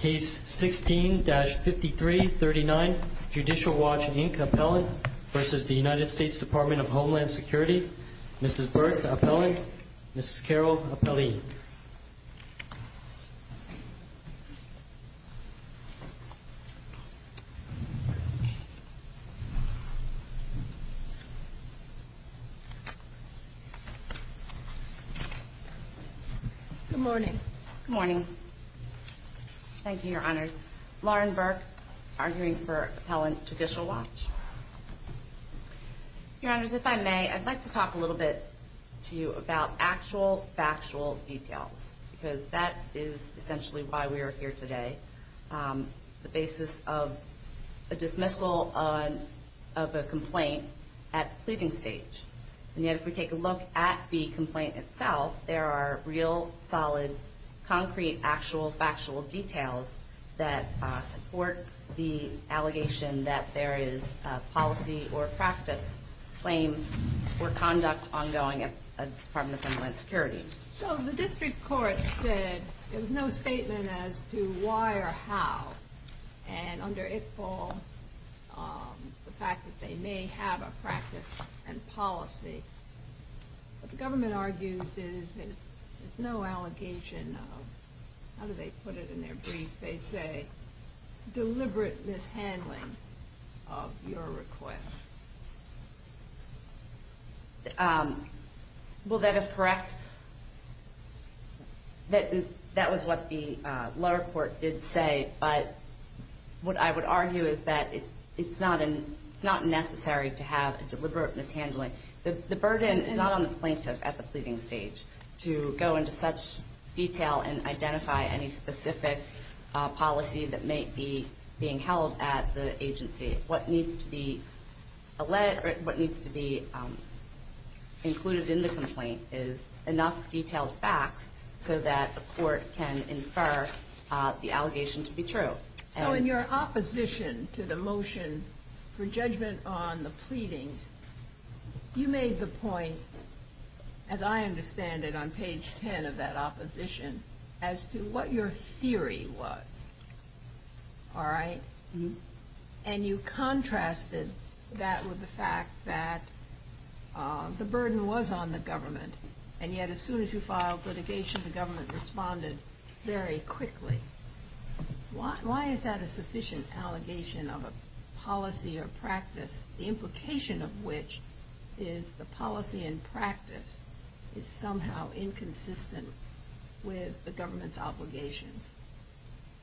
Case 16-5339, Judicial Watch, Inc., Appellant v. The United States Department of Homeland Security Mrs. Burke, Appellant. Mrs. Carroll, Appellant. Good morning. Good morning. Thank you, Your Honors. Lauren Burke, arguing for Appellant, Judicial Watch. Your Honors, if I may, I'd like to talk a little bit to you about actual, factual details, because that is essentially why we are here today, the basis of a dismissal of a complaint at the pleading stage. And yet, if we take a look at the complaint itself, there are real, solid, concrete, actual, factual details that support the allegation that there is a policy or practice, claim, or conduct ongoing at the Department of Homeland Security. So the district court said there was no statement as to why or how, and under it all, the fact that they may have a practice and policy. What the government argues is there's no allegation of, how do they put it in their brief, they say, deliberate mishandling of your request. Well, that is correct. That was what the lower court did say, but what I would argue is that it's not necessary to have a deliberate mishandling. The burden is not on the plaintiff at the time to detail and identify any specific policy that may be being held at the agency. What needs to be included in the complaint is enough detailed facts so that the court can infer the allegation to be true. So in your opposition to the motion for judgment on the pleadings, you made the point, as I understand it, on page 10 of that opposition, as to what your theory was. And you contrasted that with the fact that the burden was on the government, and yet as soon as you filed litigation, the government responded very quickly. Why is that a sufficient allegation of a policy or practice, the implication of which is the policy and practice is somehow inconsistent with the government's obligations?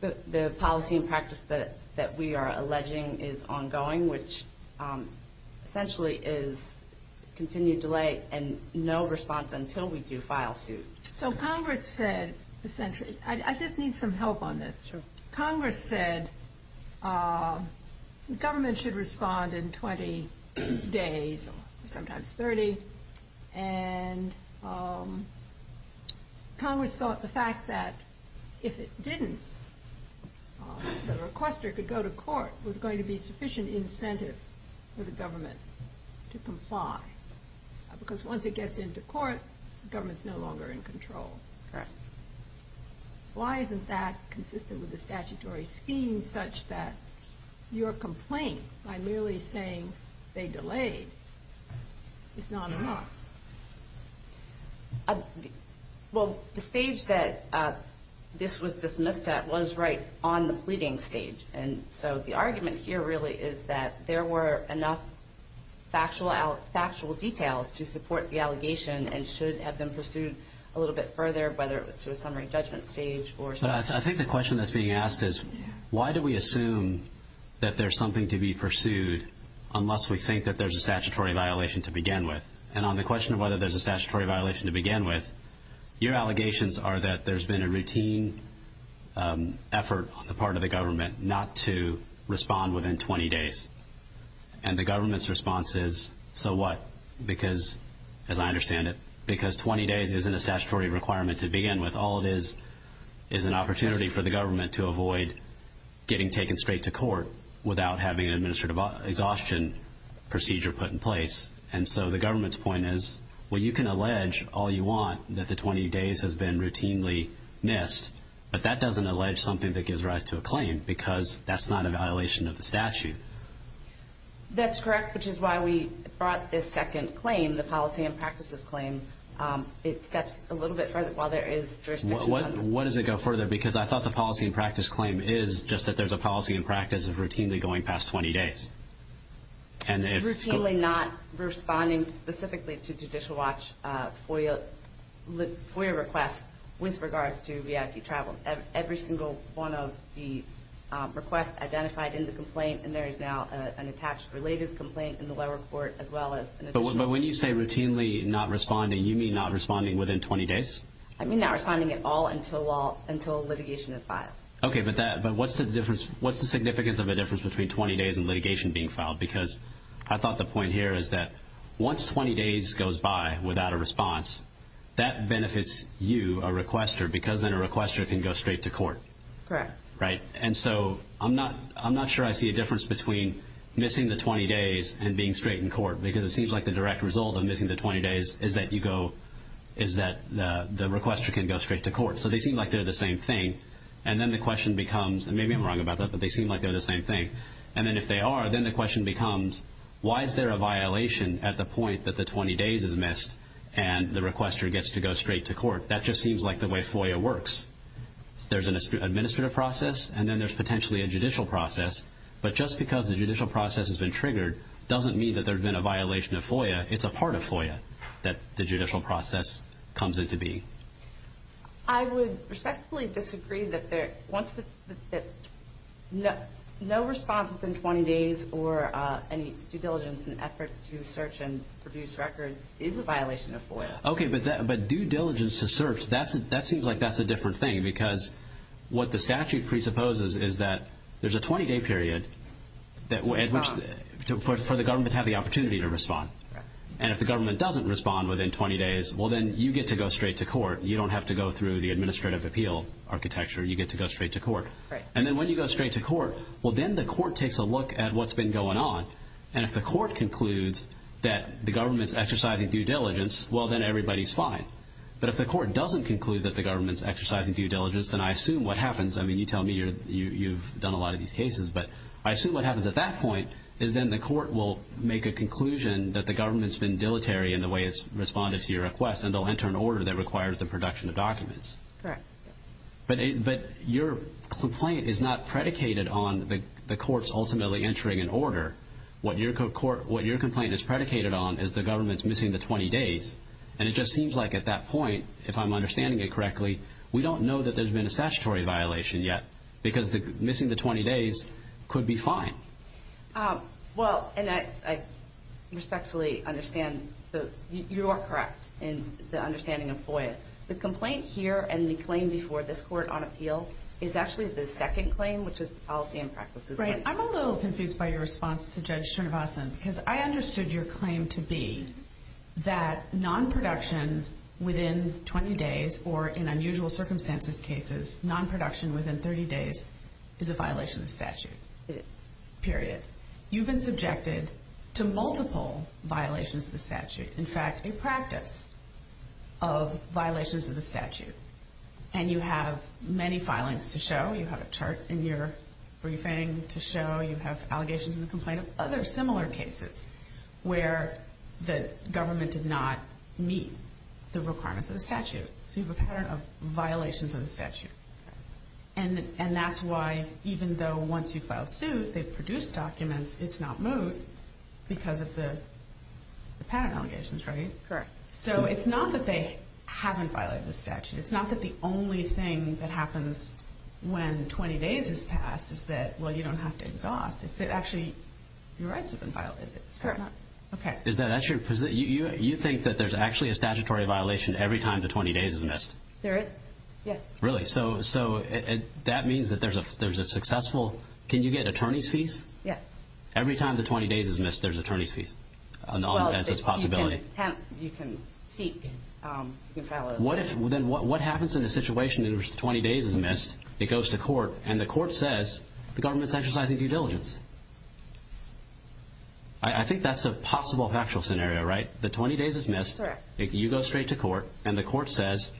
The policy and practice that we are alleging is ongoing, which essentially is continued delay and no response until we do file suit. So Congress said, essentially, I just need some help on this. Congress said the government should respond in 20 days, sometimes 30, and Congress thought the fact that if it didn't, the requester could go to court, was going to be sufficient incentive for the government to comply. Because once it gets into court, the government's no longer in control. Correct. Why isn't that consistent with the statutory scheme such that your complaint by merely saying they delayed is not enough? Well, the stage that this was dismissed at was right on the pleading stage. And so the factual details to support the allegation and should have been pursued a little bit further, whether it was to a summary judgment stage. But I think the question that's being asked is, why do we assume that there's something to be pursued unless we think that there's a statutory violation to begin with? And on the question of whether there's a statutory violation to begin with, your allegations are that there's been a routine effort on the part of the government not to respond within 20 days. And the government's response is, so what? Because, as I understand it, because 20 days isn't a statutory requirement to begin with. All it is is an opportunity for the government to avoid getting taken straight to court without having an administrative exhaustion procedure put in place. And so the government's point is, well, you can allege all you want that the 20 days has been routinely missed, but that doesn't allege something that gives rise to a claim, because that's not a violation of the statute. That's correct, which is why we brought this second claim, the policy and practices claim. It steps a little bit further while there is jurisdiction. What does it go further? Because I thought the policy and practice claim is just that there's a policy and practice of routinely going past 20 days. Routinely not responding specifically to Judicial Watch FOIA requests with regards to VIP travel. Every single one of the requests identified in the complaint, and there is now an attached related complaint in the lower court as well as an additional... But when you say routinely not responding, you mean not responding within 20 days? I mean not responding at all until litigation is filed. Okay, but what's the significance of a difference between 20 days and litigation being filed? Because I thought the point here is that once 20 days goes by without a response, that benefits you, a requester, because then a requester can go straight to court. Correct. Right? And so I'm not sure I see a difference between missing the 20 days and being straight in court, because it seems like the direct result of missing the 20 days is that the requester can go straight to court. So they seem like they're the same thing. And then the question becomes, and maybe I'm wrong about that, but they seem like they're the same thing. And then if they are, then the question becomes, why is there a violation at the point that the 20 days is missed and the requester gets to go straight to court? That just seems like the way FOIA works. There's an administrative process, and then there's potentially a judicial process. But just because the judicial process has been triggered doesn't mean that there's been a violation of FOIA. It's a part of FOIA that the judicial process comes into being. I would respectfully disagree that once the... No response within 20 days or any due diligence and efforts to search and produce records is a violation of FOIA. Okay, but due diligence to search, that seems like that's a different thing, because what the statute presupposes is that there's a 20-day period for the government to have the opportunity to respond. And if the government doesn't respond within 20 days, well, then you get to go straight to court. You don't have to go through the administrative appeal architecture. You get to go straight to court. And then when you go straight to court, well, then the court takes a look at what's been going on, and if the court concludes that the government's exercising due diligence, well, then everybody's fine. But if the court doesn't conclude that the government's exercising due diligence, then I assume what happens... I mean, you tell me you've done a lot of these cases, but I assume what happens at that point is then the court will make a conclusion that the government's been dilatory in the way it's responded to your request, and they'll enter an order that requires the production of documents. Correct. But your complaint is not predicated on the courts ultimately entering an order. What your complaint is predicated on is the government's missing the 20 days. And it just seems like at that point, if I'm understanding it correctly, we don't know that there's been a statutory violation yet, because missing the 20 days could be fine. Well, and I respectfully understand that you are correct in the understanding of FOIA. The complaint here and the claim before this court on appeal is actually the second claim, which is the policy and practices... Right. I'm a little confused by your response to Judge Chernivasan, because I understood your claim to be that non-production within 20 days, or in unusual circumstances cases, non-production within 30 days is a violation of statute. It is. Period. You've been subjected to multiple violations of the statute. In fact, a practice of violations of the statute. And you have many filings to show. You have a chart in your briefing to show you have allegations in the complaint of other similar cases where the government did not meet the requirements of the statute. So you have a pattern of violations of the statute. And that's why, even though once you file a suit, they've produced documents, it's not moved because of the pattern allegations, right? Correct. So it's not that they haven't violated the statute. It's not that the only thing that happens when 20 days has passed is that, well, you don't have to exhaust. It's that actually your rights have been violated. Correct. Okay. You think that there's actually a statutory violation every time the 20 days is missed? There is. Yes. Really? So that means that there's a successful... Can you get attorney's fees? Yes. Every time the 20 days is missed, there's attorney's fees as a possibility. Well, you can seek... Then what happens in a situation in which 20 days is missed? It goes to court, and the court says the government's exercising due diligence. I think that's a possible factual scenario, right? The 20 days is missed. Correct. You go straight to court, and the court says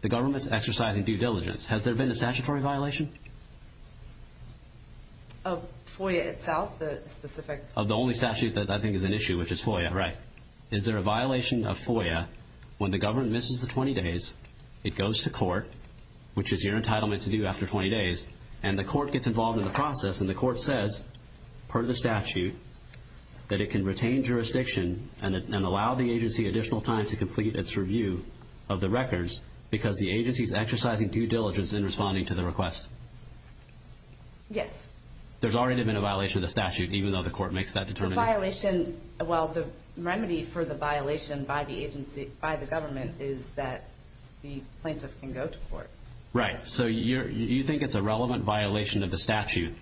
the government's exercising due diligence. Has there been a statutory violation? Of FOIA itself? The specific... Of the only statute that I think is an issue, which is FOIA, right. Is there a violation of FOIA when the government misses the 20 days, it goes to court, which is your entitlement to do after 20 days, and the court gets involved in the process, and the court says, per the statute, that it can retain jurisdiction and allow the agency additional time to complete its review of the records because the agency's exercising due diligence in responding to the request? Yes. There's already been a violation of the statute, even though the court makes that determination. The violation, well, the remedy for the violation by the agency, by the government, is that the plaintiff can go to court. Right. So you think it's a relevant violation of the statute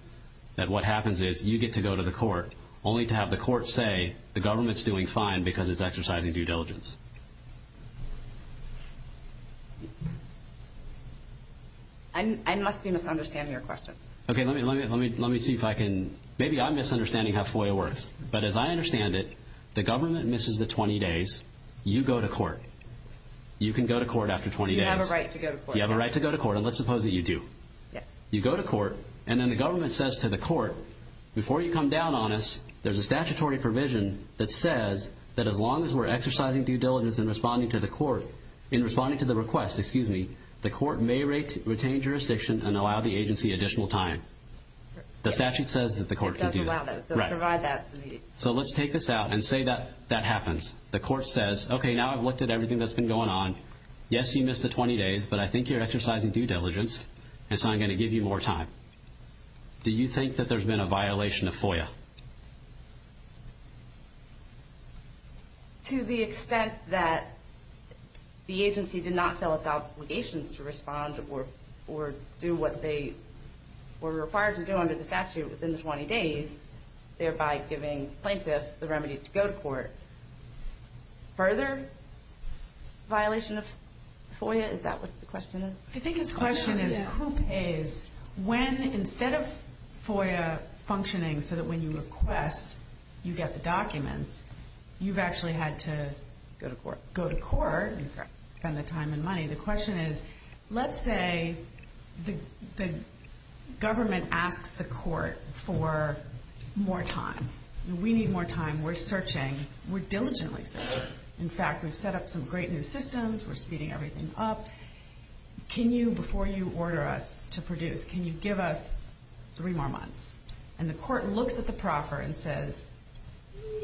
that what happens is you get to go to the court, only to have the court say the government's doing fine because it's exercising due diligence. I must be misunderstanding your question. Okay, let me see if I can... Maybe I'm misunderstanding how FOIA works, but as I understand it, the government misses the 20 days, you go to court. You can go to court after 20 days. You have a right to go to court. You have a right to go to court, and let's suppose that you do. Yes. You go to court, and then the government says to the court, before you come down on us, there's a statutory provision that says that as long as we're exercising due diligence in responding to the court, in responding to the request, excuse me, the court may retain jurisdiction and allow the agency additional time. The statute says that the court can do that. It does allow that. Right. They'll provide that to me. So let's take this out and say that that happens. The court says, okay, now I've looked at everything that's been going on. Yes, you missed the 20 days, but I think you're exercising due diligence, and so I'm going to give you more time. Do you think that there's been a violation of FOIA? To the extent that the agency did not fill its obligations to respond or do what they were required to do under the statute within the 20 days, thereby giving plaintiff the remedy to go to court. Further violation of FOIA, is that what the question is? I think his question is who pays when instead of FOIA functioning so that when you request you get the documents, you've actually had to go to court and spend the time and money. The question is, let's say the government asks the court for more time. We need more time. We're searching. We're diligently searching. In fact, we've set up some great new systems. We're speeding everything up. Can you, before you order us to produce, can you give us three more months? And the court looks at the proffer and says,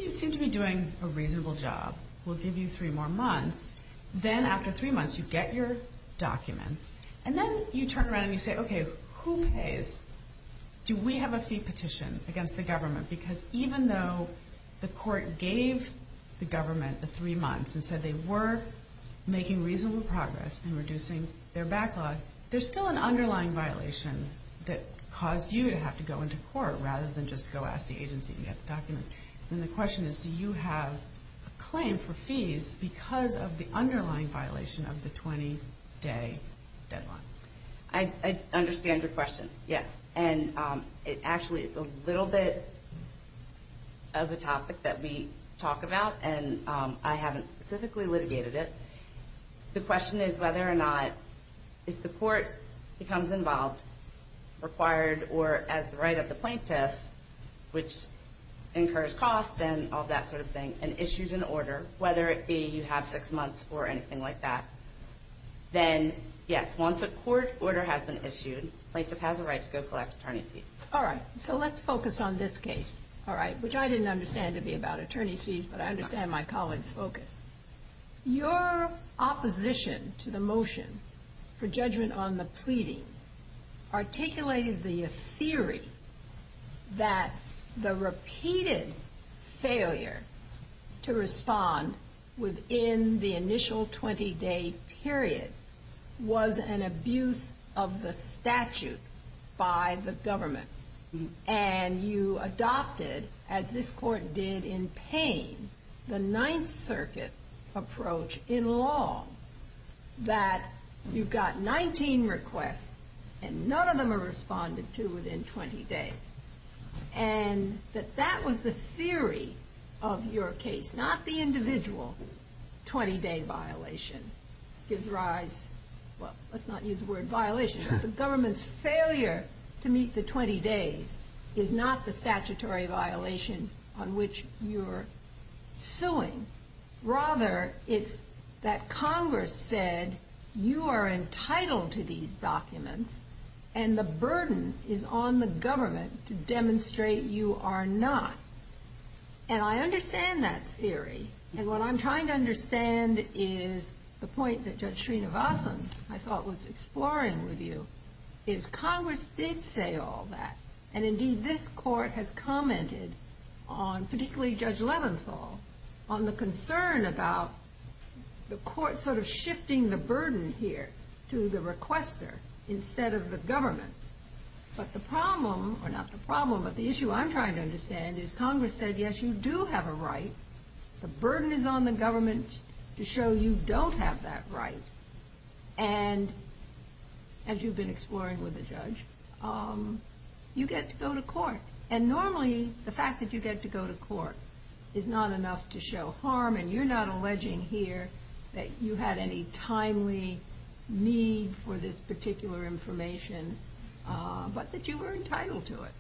you seem to be doing a reasonable job. We'll give you three more months. Then after three months, you get your documents. And then you turn around and you say, okay, who pays? Do we have a fee petition against the government? Because even though the court gave the government the three months and said they were making reasonable progress in reducing their backlog, there's still an underlying violation that caused you to have to go into court rather than just go ask the agency and get the documents. And the question is, do you have a claim for fees because of the underlying violation of the 20-day deadline? I understand your question, yes. And it actually is a little bit of a topic that we talk about, and I haven't specifically litigated it. The question is whether or not, if the court becomes involved, required, or has the right of the plaintiff, which incurs costs and all that sort of thing, and issues an order, whether it be you have six months or anything like that, then, yes, once a court order has been issued, the plaintiff has a right to go collect attorney's fees. All right, so let's focus on this case, which I didn't understand to be about attorney's fees, but I understand my colleague's focus. Your opposition to the motion for judgment on the pleadings articulated the theory that the repeated failure to respond within the initial 20-day period was an abuse of the statute by the government. And you adopted, as this court did in Paine, the Ninth Circuit approach in law, that you've got 19 requests, and none of them are responded to within 20 days, and that that was the theory of your case, not the individual 20-day violation. It gives rise, well, let's not use the word violation, but the government's failure to meet the 20 days is not the statutory violation on which you're suing. Rather, it's that Congress said you are entitled to these documents, and the burden is on the government to demonstrate you are not. And I understand that theory, and what I'm trying to understand is the point that Judge Srinivasan, I thought, was exploring with you, is Congress did say all that, and indeed this court has commented on, particularly Judge Leventhal, on the concern about the court sort of shifting the burden here to the requester instead of the government. But the problem, or not the problem, but the issue I'm trying to understand is Congress said, yes, you do have a right. The burden is on the government to show you don't have that right. And as you've been exploring with the judge, you get to go to court, and normally the fact that you get to go to court is not enough to show harm, and you're not alleging here that you had any timely need for this particular information, but that you were entitled to it.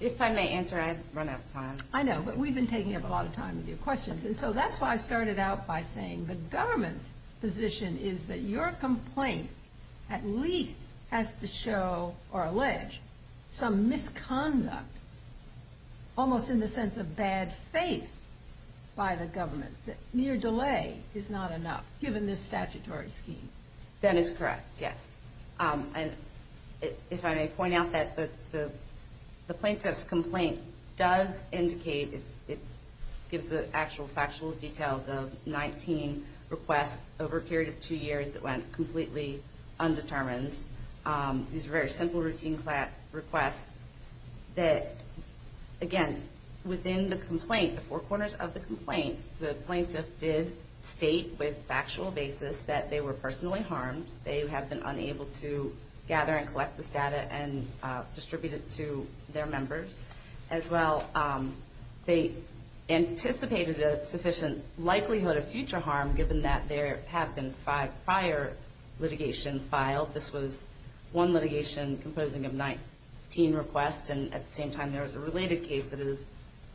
If I may answer, I've run out of time. I know, but we've been taking up a lot of time with your questions, and so that's why I started out by saying the government's position is that your complaint at least has to show or allege some misconduct, almost in the sense of bad faith by the government, that mere delay is not enough given this statutory scheme. That is correct, yes. If I may point out that the plaintiff's complaint does indicate, it gives the actual factual details of 19 requests over a period of two years that went completely undetermined. These are very simple routine requests that, again, within the complaint, the four corners of the complaint, the plaintiff did state with factual basis that they were personally harmed, they have been unable to gather and collect this data and distribute it to their members. As well, they anticipated a sufficient likelihood of future harm, given that there have been five prior litigations filed. This was one litigation composing of 19 requests, and at the same time there was a related case that has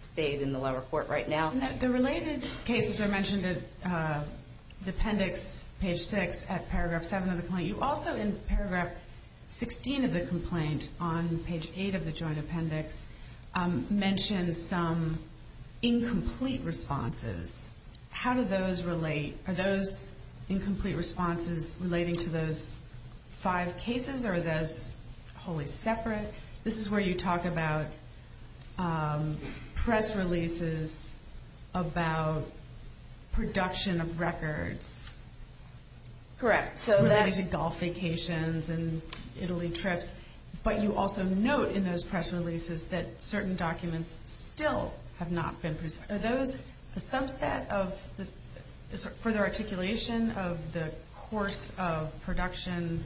stayed in the lower court right now. The related cases are mentioned in the appendix, page 6, at paragraph 7 of the complaint. You also, in paragraph 16 of the complaint, on page 8 of the joint appendix, mention some incomplete responses. How do those relate? Are those incomplete responses relating to those five cases, or are those wholly separate? This is where you talk about press releases about production of records. Correct. Related to golf vacations and Italy trips, but you also note in those press releases that certain documents still have not been presented. Are those a subset of further articulation of the course of production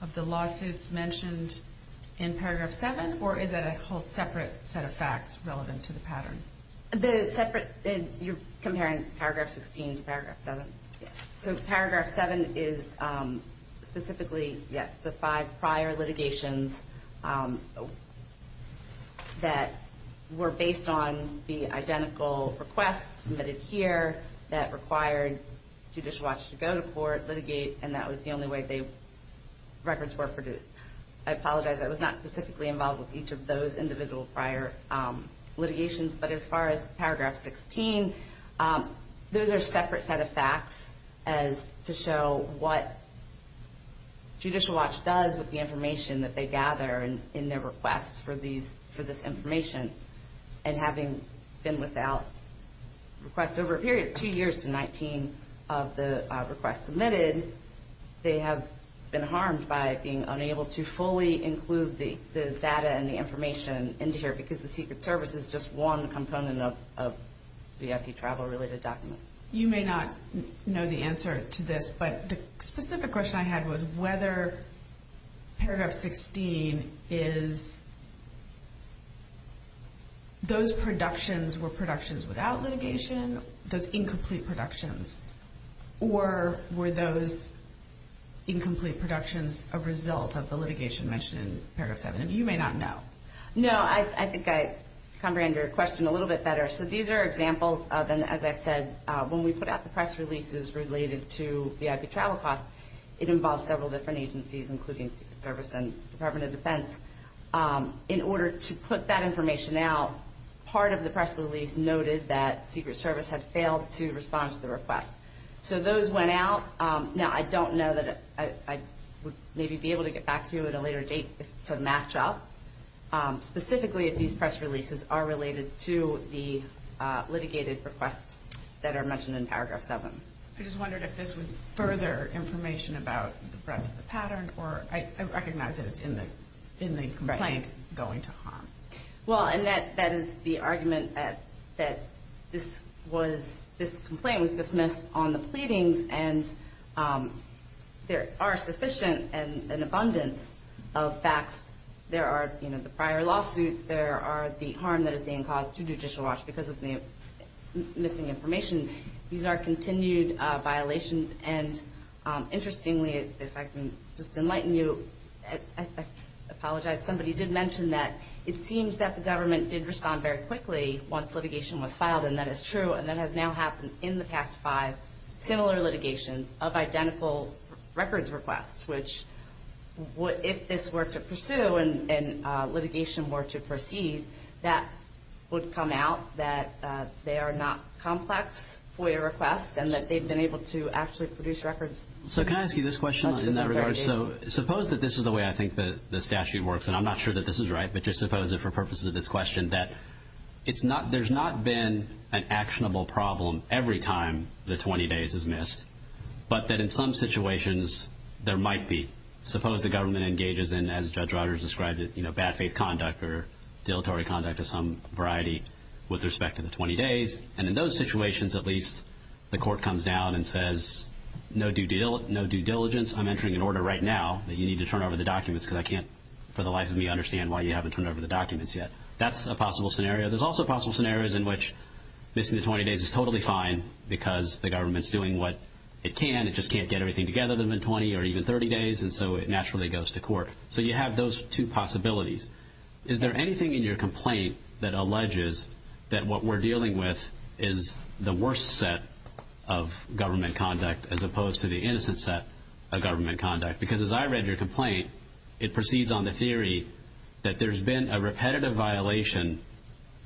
of the lawsuits mentioned in paragraph 7, or is it a whole separate set of facts relevant to the pattern? You're comparing paragraph 16 to paragraph 7? Yes. Paragraph 7 is specifically the five prior litigations that were based on the identical requests submitted here that required Judicial Watch to go to court, litigate, and that was the only way records were produced. I apologize. I was not specifically involved with each of those individual prior litigations, but as far as paragraph 16, those are separate set of facts to show what Judicial Watch does with the information that they gather in their requests for this information, and having been without requests over a period of two years to 19 of the requests submitted, they have been harmed by being unable to fully include the data and the information into here because the Secret Service is just one component of the FD Travel-related document. You may not know the answer to this, but the specific question I had was whether paragraph 16 is those productions were productions without litigation, those incomplete productions, or were those incomplete productions a result of the litigation mentioned in paragraph 7? You may not know. No. I think I comprehend your question a little bit better. So these are examples of, and as I said, when we put out the press releases related to VIP travel costs, it involved several different agencies, including Secret Service and Department of Defense. In order to put that information out, part of the press release noted that Secret Service had failed to respond to the request. So those went out. Now, I don't know that I would maybe be able to get back to you at a later date to match up specifically if these press releases are related to the litigated requests that are mentioned in paragraph 7. I just wondered if this was further information about the breadth of the pattern, or I recognize that it's in the complaint going to harm. Well, and that is the argument that this complaint was dismissed on the pleadings, and there are sufficient and an abundance of facts. There are the prior lawsuits. There are the harm that is being caused to Judicial Watch because of the missing information. These are continued violations, and interestingly, if I can just enlighten you, I apologize. Somebody did mention that it seems that the government did respond very quickly once litigation was filed, and that is true, and that has now happened in the past five similar litigations of identical records requests, which if this were to pursue and litigation were to proceed, that would come out that they are not complex FOIA requests and that they've been able to actually produce records. So can I ask you this question in that regard? So suppose that this is the way I think the statute works, and I'm not sure that this is right, but just suppose that for purposes of this question that there's not been an actionable problem every time the 20 days is missed, but that in some situations there might be. Suppose the government engages in, as Judge Rodgers described it, bad faith conduct or deletery conduct of some variety with respect to the 20 days, and in those situations at least the court comes down and says no due diligence. I'm entering an order right now that you need to turn over the documents because I can't for the life of me understand why you haven't turned over the documents yet. That's a possible scenario. There's also possible scenarios in which missing the 20 days is totally fine because the government's doing what it can. It just can't get everything together within 20 or even 30 days, and so it naturally goes to court. So you have those two possibilities. Is there anything in your complaint that alleges that what we're dealing with is the worst set of government conduct as opposed to the innocent set of government conduct? Because as I read your complaint, it proceeds on the theory that there's been a repetitive violation,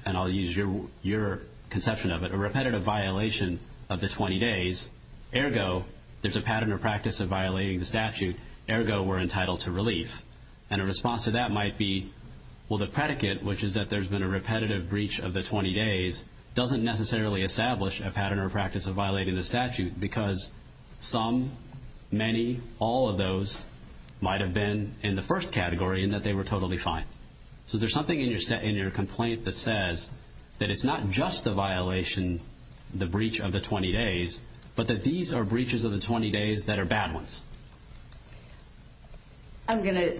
and I'll use your conception of it, a repetitive violation of the 20 days. Ergo, there's a pattern or practice of violating the statute. Ergo, we're entitled to relief. And a response to that might be, well, the predicate, which is that there's been a repetitive breach of the 20 days, doesn't necessarily establish a pattern or practice of violating the statute because some, many, all of those might have been in the first category in that they were totally fine. So is there something in your complaint that says that it's not just the violation, the breach of the 20 days, but that these are breaches of the 20 days that are bad ones? I'm going to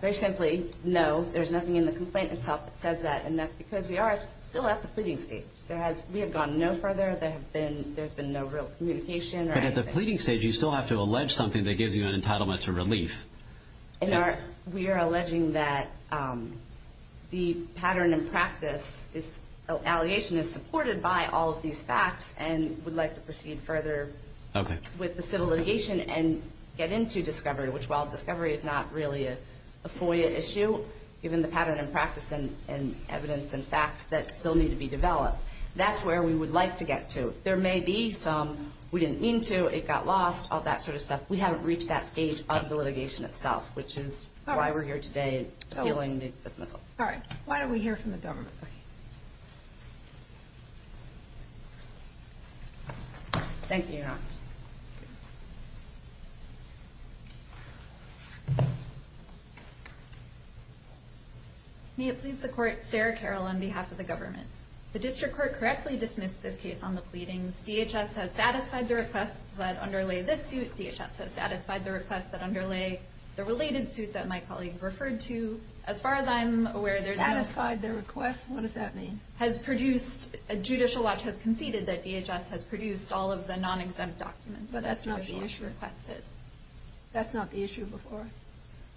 very simply no, there's nothing in the complaint itself that says that, and that's because we are still at the pleading stage. We have gone no further. There's been no real communication or anything. But at the pleading stage, you still have to allege something that gives you an entitlement to relief. We are alleging that the pattern and practice, this allegation is supported by all of these facts and would like to proceed further with the civil litigation and get into discovery, which while discovery is not really a FOIA issue, given the pattern and practice and evidence and facts that still need to be developed, that's where we would like to get to. There may be some we didn't mean to, it got lost, all that sort of stuff. We haven't reached that stage of the litigation itself, which is why we're here today appealing the dismissal. All right. Why don't we hear from the government? Okay. Thank you, Your Honor. May it please the Court, Sarah Carroll on behalf of the government. The district court correctly dismissed this case on the pleadings. DHS has satisfied the requests that underlay this suit. DHS has satisfied the requests that underlay the related suit that my colleague referred to. Satisfied the requests? What does that mean? Judicial Watch has conceded that DHS has produced all of the non-exempt documents. But that's not the issue. That's not the issue before us.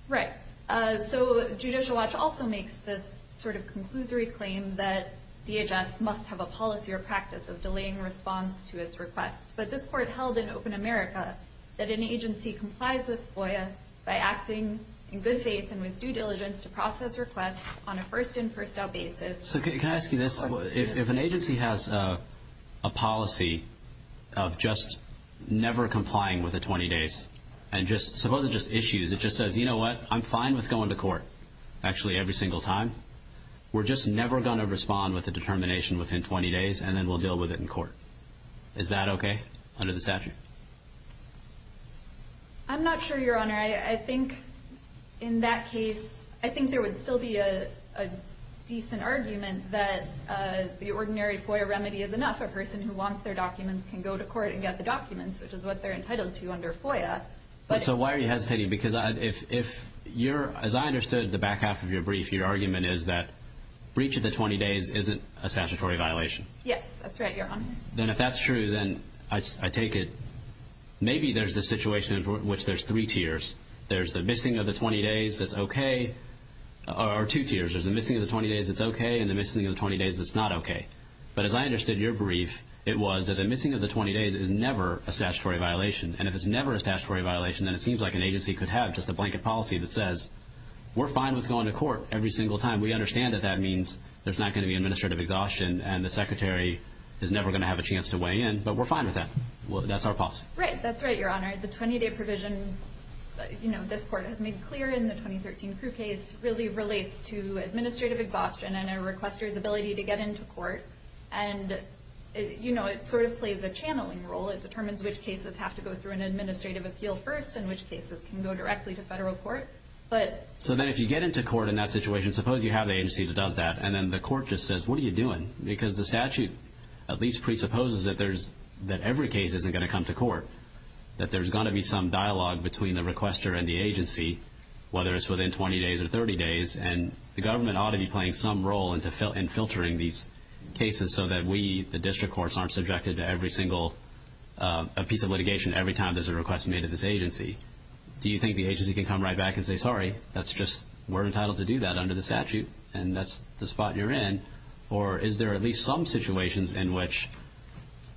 Right. So Judicial Watch also makes this sort of conclusory claim that DHS must have a policy or practice of delaying response to its requests. But this court held in open America that an agency complies with FOIA by acting in good faith and with due diligence to process requests on a first-in-first-out basis. So can I ask you this? If an agency has a policy of just never complying with a 20 days and just suppose it's just issues, it just says, you know what, I'm fine with going to court actually every single time. We're just never going to respond with a determination within 20 days, and then we'll deal with it in court. I'm not sure, Your Honor. I think in that case, I think there would still be a decent argument that the ordinary FOIA remedy is enough. A person who wants their documents can go to court and get the documents, which is what they're entitled to under FOIA. So why are you hesitating? Because if you're, as I understood the back half of your brief, your argument is that breach of the 20 days isn't a statutory violation. Yes, that's right, Your Honor. Then if that's true, then I take it maybe there's a situation in which there's three tiers. There's the missing of the 20 days that's okay, or two tiers. There's the missing of the 20 days that's okay and the missing of the 20 days that's not okay. But as I understood your brief, it was that the missing of the 20 days is never a statutory violation, and if it's never a statutory violation, then it seems like an agency could have just a blanket policy that says, we're fine with going to court every single time. We understand that that means there's not going to be administrative exhaustion and the secretary is never going to have a chance to weigh in, but we're fine with that. That's our policy. Right, that's right, Your Honor. The 20-day provision, you know, this court has made clear in the 2013 crew case, really relates to administrative exhaustion and a requester's ability to get into court. And, you know, it sort of plays a channeling role. It determines which cases have to go through an administrative appeal first and which cases can go directly to federal court. So then if you get into court in that situation, suppose you have an agency that does that, and then the court just says, what are you doing? Because the statute at least presupposes that every case isn't going to come to court, that there's going to be some dialogue between the requester and the agency, whether it's within 20 days or 30 days, and the government ought to be playing some role in filtering these cases so that we, the district courts, aren't subjected to every single piece of litigation every time there's a request made at this agency. Do you think the agency can come right back and say, sorry, that's just, we're entitled to do that under the statute, and that's the spot you're in? Or is there at least some situations in which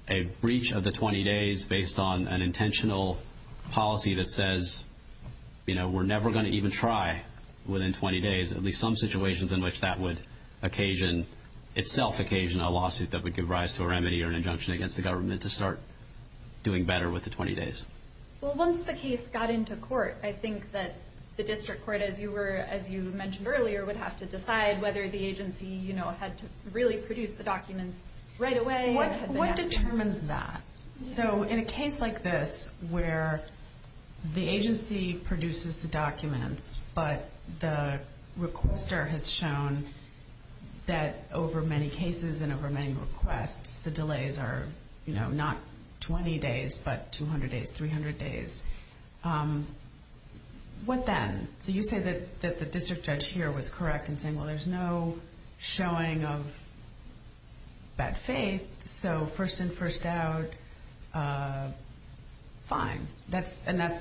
a breach of the 20 days based on an intentional policy that says, you know, we're never going to even try within 20 days, at least some situations in which that would occasion, itself occasion, a lawsuit that would give rise to a remedy or an injunction against the government to start doing better with the 20 days? Well, once the case got into court, I think that the district court, as you mentioned earlier, would have to decide whether the agency, you know, had to really produce the documents right away. What determines that? So in a case like this where the agency produces the documents, but the requester has shown that over many cases and over many requests, the delays are, you know, not 20 days, but 200 days, 300 days. What then? So you say that the district judge here was correct in saying, well, there's no showing of bad faith, so first in, first out, fine. And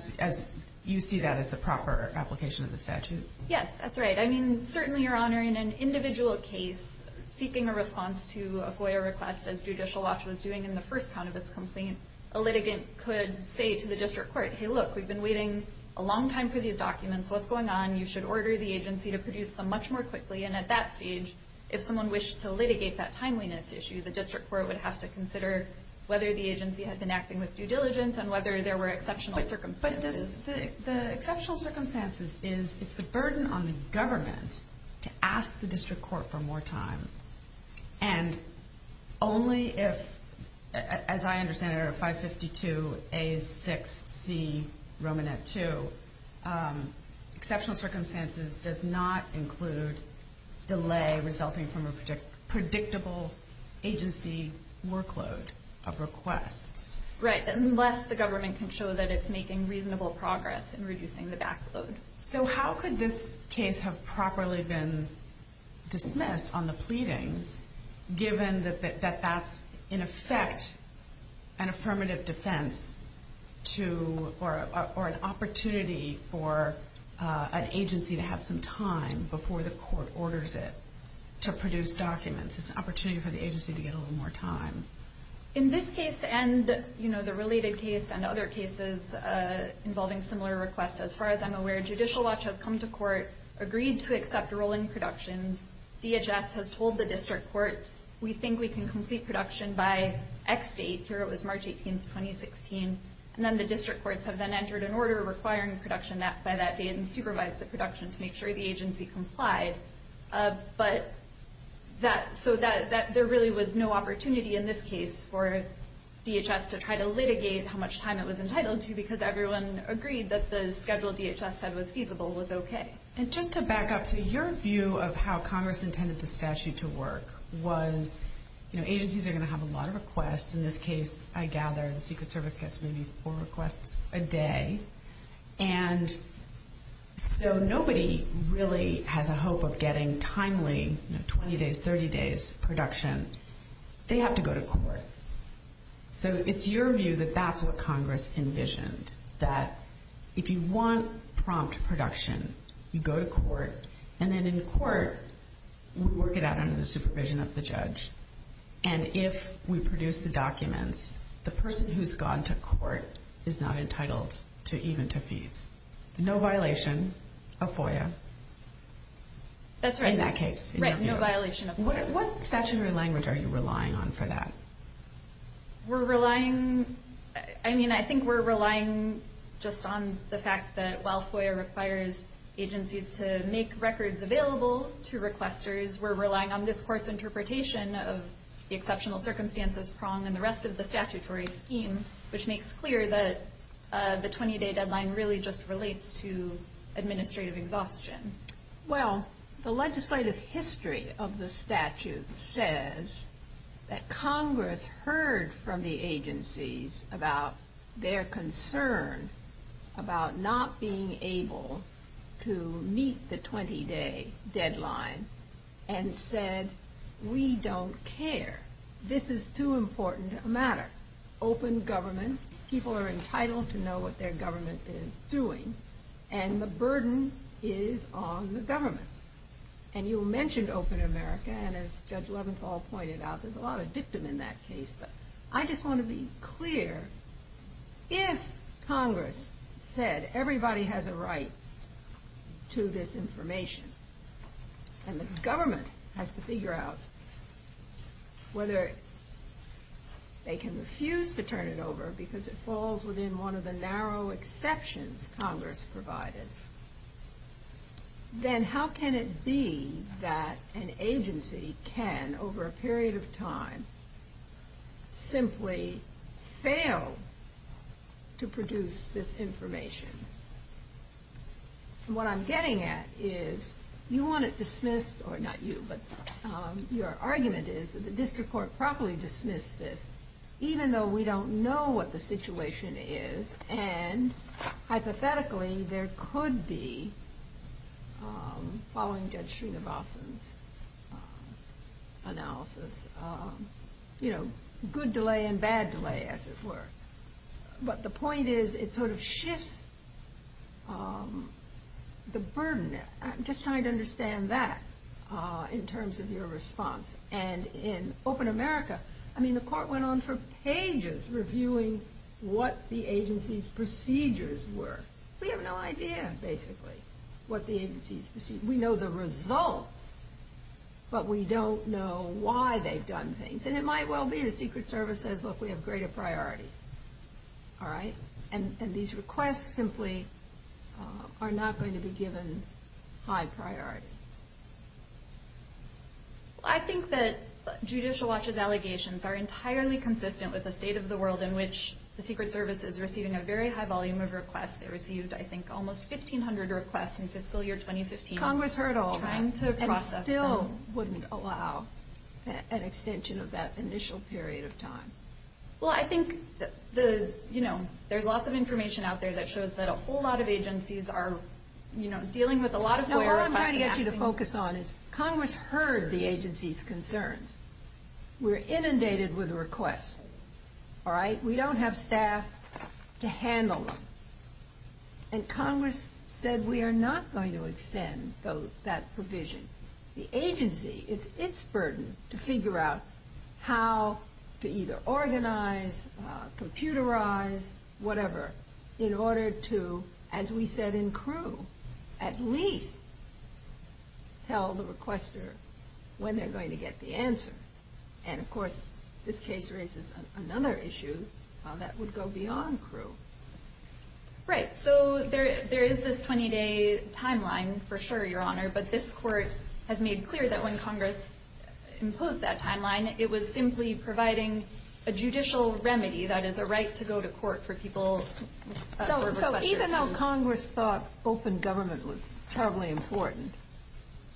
you see that as the proper application of the statute? Yes, that's right. I mean, certainly, Your Honor, in an individual case, seeking a response to a FOIA request as Judicial Watch was doing in the first count of its complaint, a litigant could say to the district court, hey, look, we've been waiting a long time for these documents. What's going on? You should order the agency to produce them much more quickly. And at that stage, if someone wished to litigate that timeliness issue, the district court would have to consider whether the agency had been acting with due diligence and whether there were exceptional circumstances. The exceptional circumstances is it's a burden on the government to ask the district court for more time. And only if, as I understand it, 552A6C Romanet 2, exceptional circumstances does not include delay resulting from a predictable agency workload of requests. Right, unless the government can show that it's making reasonable progress in reducing the backload. So how could this case have properly been dismissed on the pleadings, given that that's, in effect, an affirmative defense or an opportunity for an agency to have some time before the court orders it to produce documents? It's an opportunity for the agency to get a little more time. In this case and the related case and other cases involving similar requests, as far as I'm aware, Judicial Watch has come to court, agreed to accept rolling productions. DHS has told the district courts, we think we can complete production by X date. Here it was March 18, 2016. And then the district courts have then entered an order requiring production by that date and supervised the production to make sure the agency complied. So there really was no opportunity in this case for DHS to try to litigate how much time it was entitled to because everyone agreed that the schedule DHS said was feasible was okay. And just to back up to your view of how Congress intended the statute to work was, agencies are going to have a lot of requests. In this case, I gather, the Secret Service gets maybe four requests a day. And so nobody really has a hope of getting timely 20 days, 30 days production. They have to go to court. So it's your view that that's what Congress envisioned, that if you want prompt production, you go to court, and then in court, we work it out under the supervision of the judge. And if we produce the documents, the person who's gone to court is not entitled even to fees. No violation of FOIA. That's right. In that case. Right, no violation of FOIA. What statute or language are you relying on for that? We're relying, I mean, I think we're relying just on the fact that while FOIA requires agencies to make records available to requesters, we're relying on this court's interpretation of the exceptional circumstances prong and the rest of the statutory scheme, which makes clear that the 20-day deadline really just relates to administrative exhaustion. Well, the legislative history of the statute says that Congress heard from the agencies about their concern about not being able to meet the 20-day deadline and said, we don't care. This is too important a matter. Open government, people are entitled to know what their government is doing, and the burden is on the government. And you mentioned open America, and as Judge Leventhal pointed out, there's a lot of dictum in that case, but I just want to be clear. If Congress said everybody has a right to this information, and the government has to figure out whether they can refuse to turn it over because it falls within one of the narrow exceptions Congress provided, then how can it be that an agency can, over a period of time, simply fail to produce this information? What I'm getting at is you want it dismissed, or not you, but your argument is that the district court properly dismissed this, even though we don't know what the situation is, and hypothetically there could be, following Judge Srinivasan's analysis, good delay and bad delay, as it were. But the point is it sort of shifts the burden. I'm just trying to understand that in terms of your response. And in open America, I mean, the court went on for pages reviewing what the agency's procedures were. We have no idea, basically, what the agency's procedures were. We know the results, but we don't know why they've done things. And it might well be the Secret Service says, look, we have greater priorities, all right? And these requests simply are not going to be given high priority. I think that Judicial Watch's allegations are entirely consistent with the state of the world in which the Secret Service is receiving a very high volume of requests. They received, I think, almost 1,500 requests in fiscal year 2015. Congress heard all that, and still wouldn't allow an extension of that initial period of time. Well, I think there's lots of information out there that shows that a whole lot of agencies are dealing with a lot of FOIA requests. What I'm trying to get you to focus on is Congress heard the agency's concerns. We're inundated with requests, all right? We don't have staff to handle them. And Congress said we are not going to extend that provision. The agency, it's its burden to figure out how to either organize, computerize, whatever, in order to, as we said in Crewe, at least tell the requester when they're going to get the answer. And, of course, this case raises another issue that would go beyond Crewe. Right. So there is this 20-day timeline, for sure, Your Honor, but this Court has made clear that when Congress imposed that timeline, it was simply providing a judicial remedy, that is, a right to go to court for people. So even though Congress thought open government was terribly important,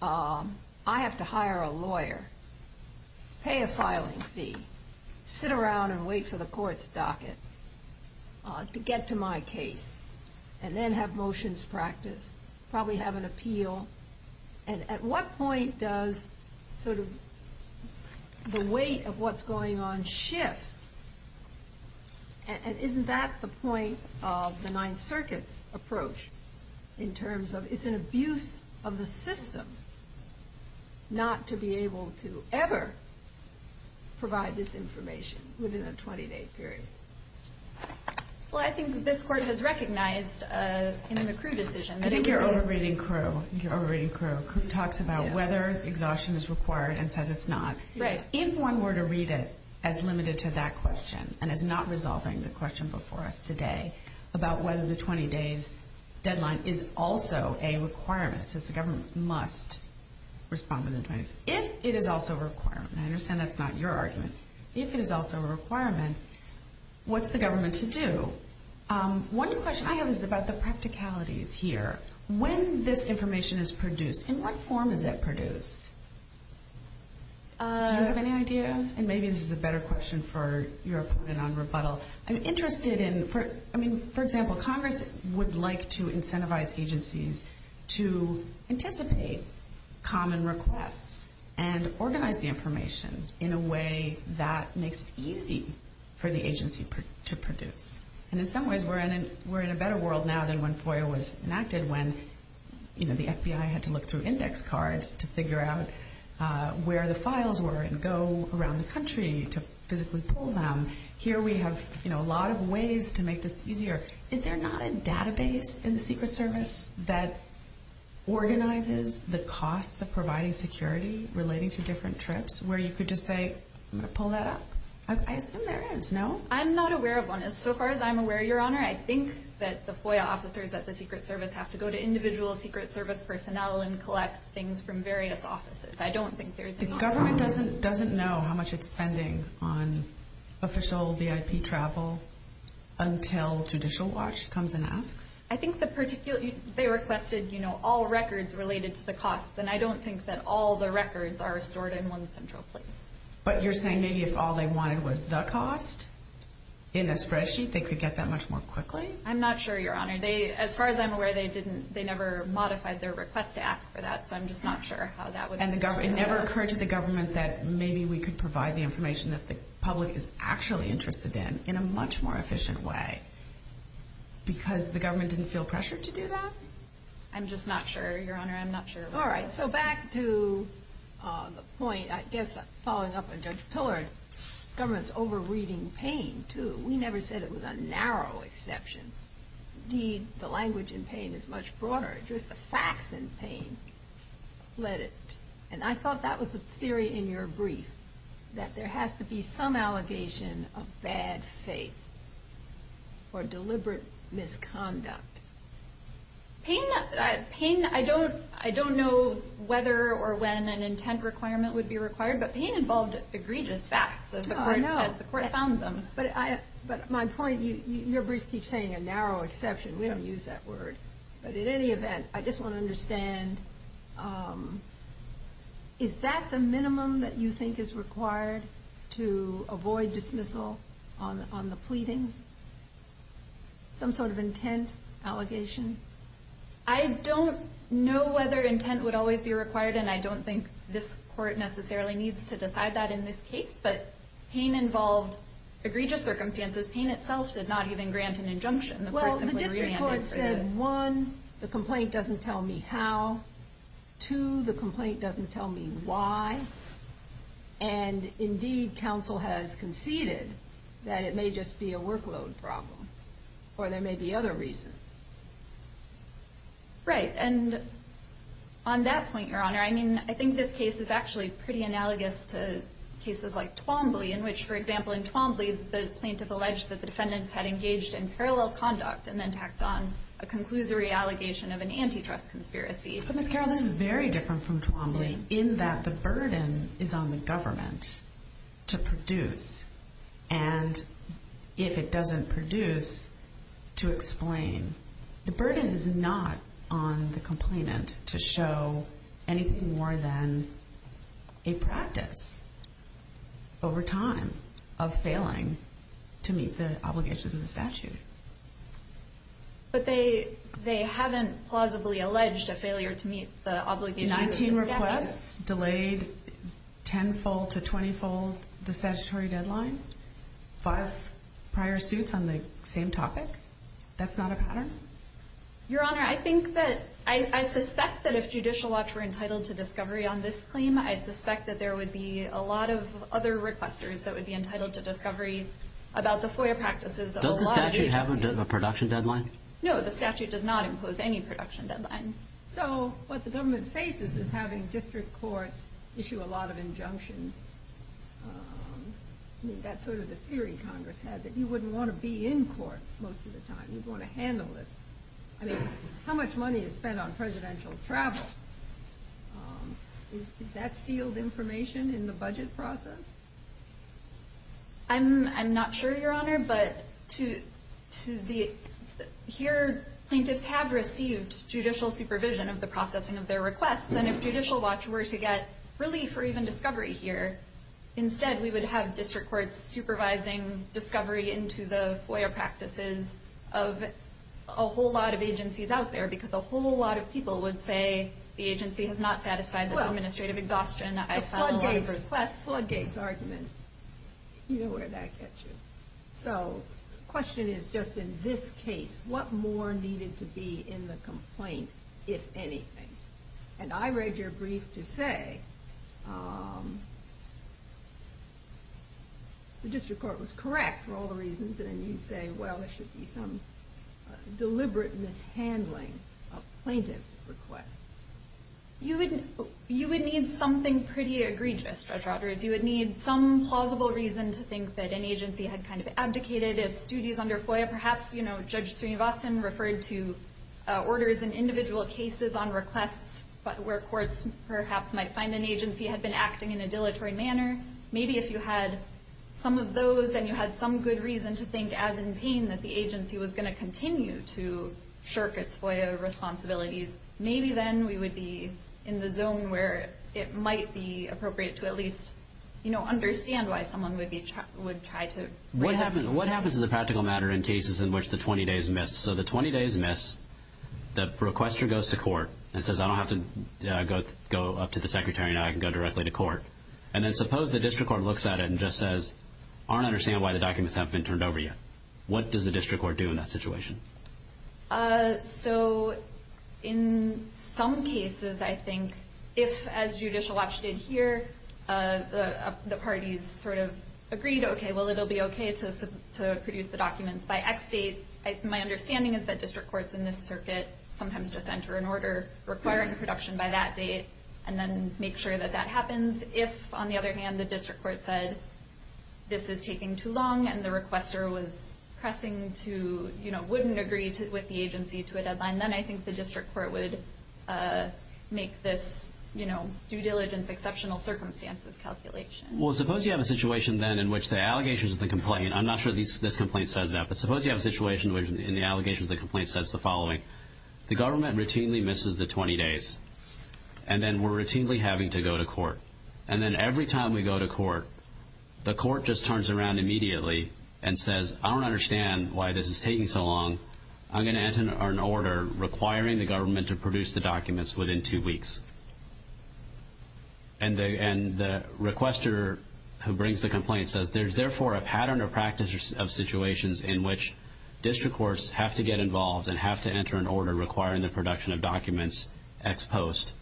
I have to hire a lawyer, pay a filing fee, sit around and wait for the court's docket to get to my case, and then have motions practiced, probably have an appeal. And at what point does sort of the weight of what's going on shift? And isn't that the point of the Ninth Circuit's approach, in terms of it's an abuse of the system not to be able to ever provide this information within a 20-day period? Well, I think this Court has recognized in the Crewe decision that it was... You're over-reading Crewe. You're over-reading Crewe. Crewe talks about whether exhaustion is required and says it's not. Right. If one were to read it as limited to that question and as not resolving the question before us today about whether the 20-day deadline is also a requirement, it says the government must respond within 20 days. If it is also a requirement, and I understand that's not your argument, if it is also a requirement, what's the government to do? One question I have is about the practicalities here. When this information is produced, in what form is it produced? Do you have any idea? And maybe this is a better question for your opponent on rebuttal. I'm interested in, for example, Congress would like to incentivize agencies to anticipate common requests and organize the information in a way that makes it easy for the agency to produce. And in some ways we're in a better world now than when FOIA was enacted when the FBI had to look through index cards to figure out where the files were and go around the country to physically pull them. Here we have a lot of ways to make this easier. Is there not a database in the Secret Service that organizes the costs of providing security relating to different trips where you could just say, I'm going to pull that up? I assume there is, no? I'm not aware of one. As far as I'm aware, Your Honor, I think that the FOIA officers at the Secret Service have to go to individual Secret Service personnel and collect things from various offices. I don't think there's any... The government doesn't know how much it's spending on official VIP travel until Judicial Watch comes and asks? I think they requested all records related to the costs, and I don't think that all the records are stored in one central place. But you're saying maybe if all they wanted was the cost in a spreadsheet, they could get that much more quickly? I'm not sure, Your Honor. As far as I'm aware, they never modified their request to ask for that, so I'm just not sure how that would... And it never occurred to the government that maybe we could provide the information that the public is actually interested in in a much more efficient way because the government didn't feel pressured to do that? I'm just not sure, Your Honor. I'm not sure. All right, so back to the point, I guess, following up on Judge Pillard, government's over-reading pain, too. We never said it was a narrow exception. Indeed, the language in pain is much broader. Just the facts in pain led it. And I thought that was a theory in your brief, that there has to be some allegation of bad faith or deliberate misconduct. Pain, I don't know whether or when an intent requirement would be required, but pain involved egregious facts as the court found them. But my point, your brief keeps saying a narrow exception. We don't use that word. But in any event, I just want to understand, is that the minimum that you think is required to avoid dismissal on the pleadings? Some sort of intent allegation? I don't know whether intent would always be required, and I don't think this court necessarily needs to decide that in this case, but pain involved egregious circumstances. Pain itself did not even grant an injunction. Well, the district court said, one, the complaint doesn't tell me how. Two, the complaint doesn't tell me why. And indeed, counsel has conceded that it may just be a workload problem or there may be other reasons. Right, and on that point, your honor, I think this case is actually pretty analogous to cases like Twombly, in which, for example, in Twombly, the plaintiff alleged that the defendants had engaged in parallel conduct and then tacked on a conclusory allegation of an antitrust conspiracy. But Ms. Carroll, this is very different from Twombly, in that the burden is on the government to produce, and if it doesn't produce, to explain. The burden is not on the complainant to show anything more than a practice over time of failing to meet the obligations of the statute. But they haven't plausibly alleged a failure to meet the obligations of the statute. Nineteen requests delayed tenfold to twentyfold the statutory deadline. Five prior suits on the same topic. That's not a pattern? Your honor, I think that, I suspect that if Judicial Watch were entitled to discovery on this claim, I suspect that there would be a lot of other requesters that would be entitled to discovery about the FOIA practices of a lot of agencies. Does the statute have a production deadline? No, the statute does not impose any production deadline. So what the government faces is having district courts issue a lot of injunctions. I mean, that's sort of the theory Congress had, that you wouldn't want to be in court most of the time. You'd want to handle this. I mean, how much money is spent on presidential travel? Is that sealed information in the budget process? I'm not sure, your honor. But here, plaintiffs have received judicial supervision of the processing of their requests. And if Judicial Watch were to get relief or even discovery here, instead we would have district courts supervising discovery into the FOIA practices of a whole lot of agencies out there. Because a whole lot of people would say, the agency has not satisfied this administrative exhaustion. The floodgates argument. You know where that gets you. So the question is, just in this case, what more needed to be in the complaint, if anything? And I read your brief to say, the district court was correct for all the reasons. And you say, well, there should be some deliberate mishandling of plaintiffs' requests. You would need something pretty egregious, Judge Rogers. You would need some plausible reason to think that an agency had kind of abdicated its duties under FOIA. Perhaps, you know, Judge Srinivasan referred to orders in individual cases on requests where courts perhaps might find an agency had been acting in a dilatory manner. Maybe if you had some of those and you had some good reason to think, as in pain, that the agency was going to continue to shirk its FOIA responsibilities, maybe then we would be in the zone where it might be appropriate to at least, you know, understand why someone would try to. What happens as a practical matter in cases in which the 20 days missed? So the 20 days missed, the requester goes to court and says, I don't have to go up to the secretary now. I can go directly to court. And then suppose the district court looks at it and just says, I don't understand why the documents haven't been turned over yet. What does the district court do in that situation? So in some cases, I think, if, as Judicial Watch did here, the parties sort of agreed, okay, well, it will be okay to produce the documents by X date. My understanding is that district courts in this circuit sometimes just enter an order requiring production by that date and then make sure that that happens. If, on the other hand, the district court said this is taking too long and the requester was pressing to, you know, wouldn't agree with the agency to a deadline, then I think the district court would make this, you know, due diligence exceptional circumstances calculation. Well, suppose you have a situation then in which the allegations of the complaint, I'm not sure this complaint says that, but suppose you have a situation in which the allegations of the complaint says the following, the government routinely misses the 20 days, and then we're routinely having to go to court. And then every time we go to court, the court just turns around immediately and says, I don't understand why this is taking so long. I'm going to enter an order requiring the government to produce the documents within two weeks. And the requester who brings the complaint says, there's therefore a pattern or practice of situations in which district courts have to get involved and have to enter an order requiring the production of documents ex post.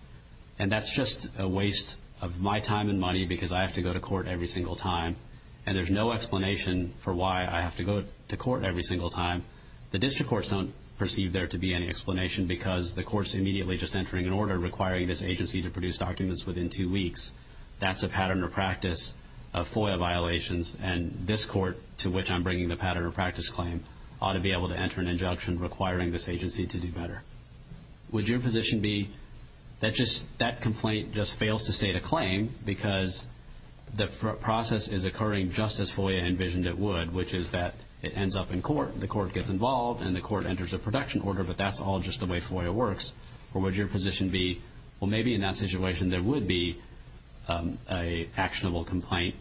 And that's just a waste of my time and money because I have to go to court every single time, and there's no explanation for why I have to go to court every single time. The district courts don't perceive there to be any explanation because the court's immediately just entering an order requiring this agency to produce documents within two weeks. That's a pattern or practice of FOIA violations, and this court to which I'm bringing the pattern or practice claim ought to be able to enter an injunction requiring this agency to do better. Would your position be that that complaint just fails to state a claim because the process is occurring just as FOIA envisioned it would, which is that it ends up in court, the court gets involved, and the court enters a production order, but that's all just the way FOIA works? Or would your position be, well, maybe in that situation there would be an actionable complaint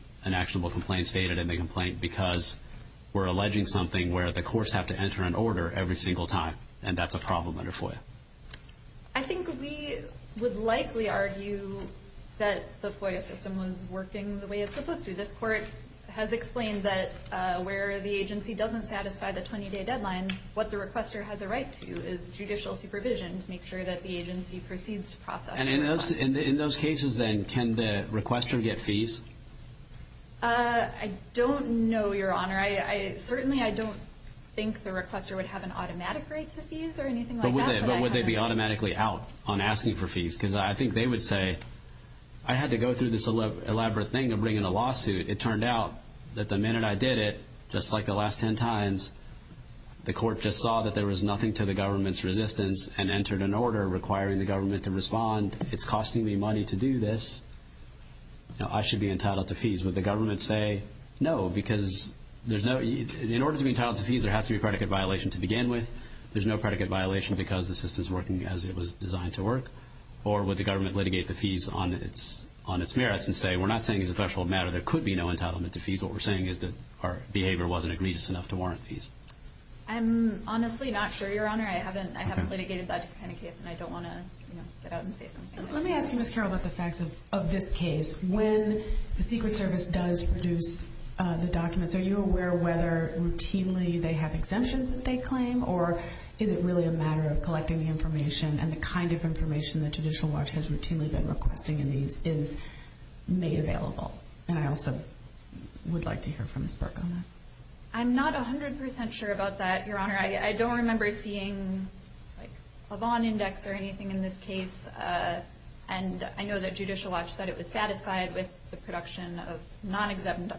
stated in the complaint because we're alleging something where the courts have to enter an order every single time, and that's a problem under FOIA? I think we would likely argue that the FOIA system was working the way it's supposed to. This court has explained that where the agency doesn't satisfy the 20-day deadline, what the requester has a right to is judicial supervision to make sure that the agency proceeds to process. And in those cases, then, can the requester get fees? I don't know, Your Honor. Certainly I don't think the requester would have an automatic right to fees or anything like that. But would they be automatically out on asking for fees? Because I think they would say, I had to go through this elaborate thing of bringing a lawsuit. It turned out that the minute I did it, just like the last 10 times, the court just saw that there was nothing to the government's resistance and entered an order requiring the government to respond. It's costing me money to do this. I should be entitled to fees. Would the government say no? Because in order to be entitled to fees, there has to be a predicate violation to begin with. There's no predicate violation because the system is working as it was designed to work. Or would the government litigate the fees on its merits and say, we're not saying as a factual matter there could be no entitlement to fees. What we're saying is that our behavior wasn't egregious enough to warrant fees. I'm honestly not sure, Your Honor. I haven't litigated that kind of case, and I don't want to get out and say something. Let me ask you, Ms. Carroll, about the facts of this case. When the Secret Service does produce the documents, are you aware whether routinely they have exemptions that they claim, or is it really a matter of collecting the information and the kind of information that Judicial Watch has routinely been requesting and is made available? And I also would like to hear from Ms. Berk on that. I'm not 100% sure about that, Your Honor. I don't remember seeing a Vaughn Index or anything in this case. And I know that Judicial Watch said it was satisfied with the production of non-exempt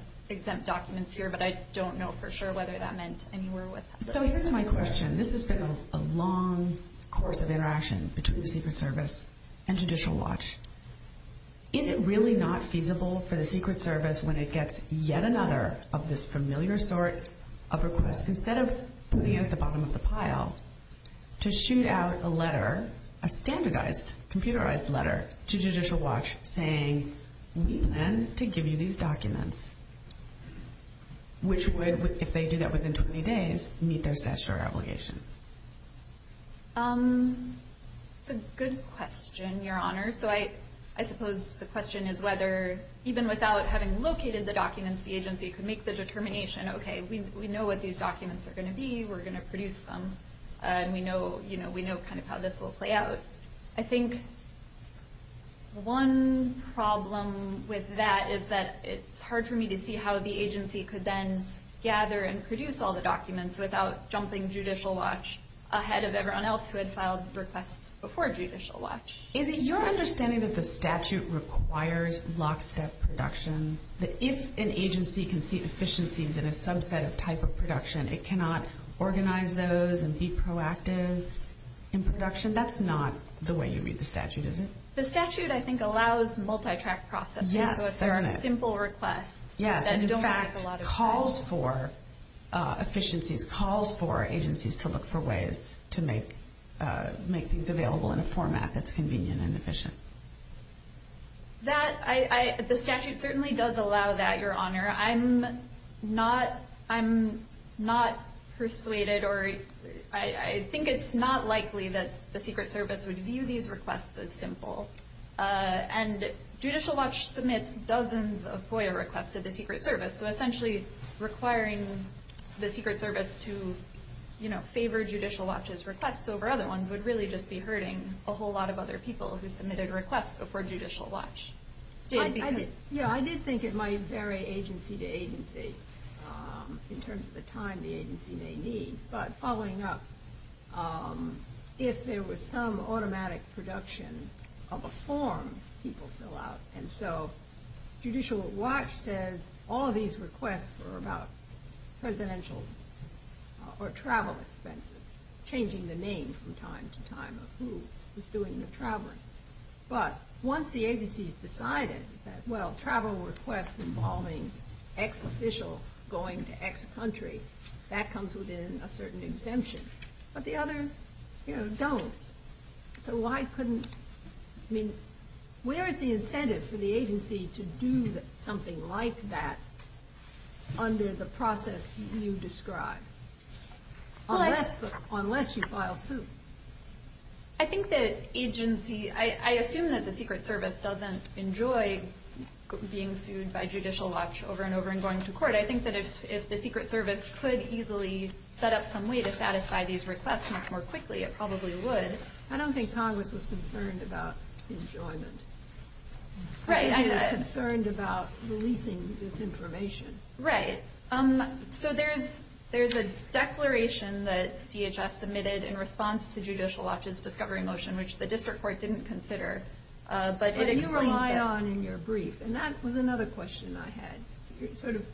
documents here, but I don't know for sure whether that meant anywhere. So here's my question. This has been a long course of interaction between the Secret Service and Judicial Watch. Is it really not feasible for the Secret Service when it gets yet another of this familiar sort of request? Instead of putting it at the bottom of the pile, to shoot out a letter, a standardized, computerized letter to Judicial Watch saying we plan to give you these documents, which would, if they do that within 20 days, meet their statutory obligation? It's a good question, Your Honor. So I suppose the question is whether, even without having located the documents, the agency could make the determination, okay, we know what these documents are going to be, we're going to produce them, and we know kind of how this will play out. I think one problem with that is that it's hard for me to see how the agency could then gather and produce all the documents without jumping Judicial Watch ahead of everyone else who had filed requests before Judicial Watch. Is it your understanding that the statute requires lockstep production, that if an agency can see efficiencies in a subset of type of production, it cannot organize those and be proactive in production? That's not the way you read the statute, is it? The statute, I think, allows multi-track processing. Yes. So it's a simple request. Yes. And, in fact, calls for efficiencies, calls for agencies to look for ways to make things available in a format that's convenient and efficient. The statute certainly does allow that, Your Honor. I'm not persuaded or I think it's not likely that the Secret Service would view these requests as simple. And Judicial Watch submits dozens of FOIA requests to the Secret Service, so essentially requiring the Secret Service to favor Judicial Watch's requests over other ones would really just be hurting a whole lot of other people who submitted requests before Judicial Watch did. Yeah, I did think it might vary agency to agency in terms of the time the agency may need, but following up, if there was some automatic production of a form, people fill out. And so Judicial Watch says all of these requests were about presidential or travel expenses, changing the name from time to time of who was doing the traveling. But once the agency has decided that, well, travel requests involving X official going to X country, that comes within a certain exemption. But the others, you know, don't. So why couldn't, I mean, where is the incentive for the agency to do something like that under the process you described, unless you file suit? I think the agency, I assume that the Secret Service doesn't enjoy being sued by Judicial Watch over and over and going to court. I think that if the Secret Service could easily set up some way to satisfy these requests much more quickly, it probably would. I don't think Congress was concerned about enjoyment. Right. It was concerned about releasing this information. Right. So there's a declaration that DHS submitted in response to Judicial Watch's discovery motion, which the district court didn't consider. But it explains it. You rely on in your brief, and that was another question I had, sort of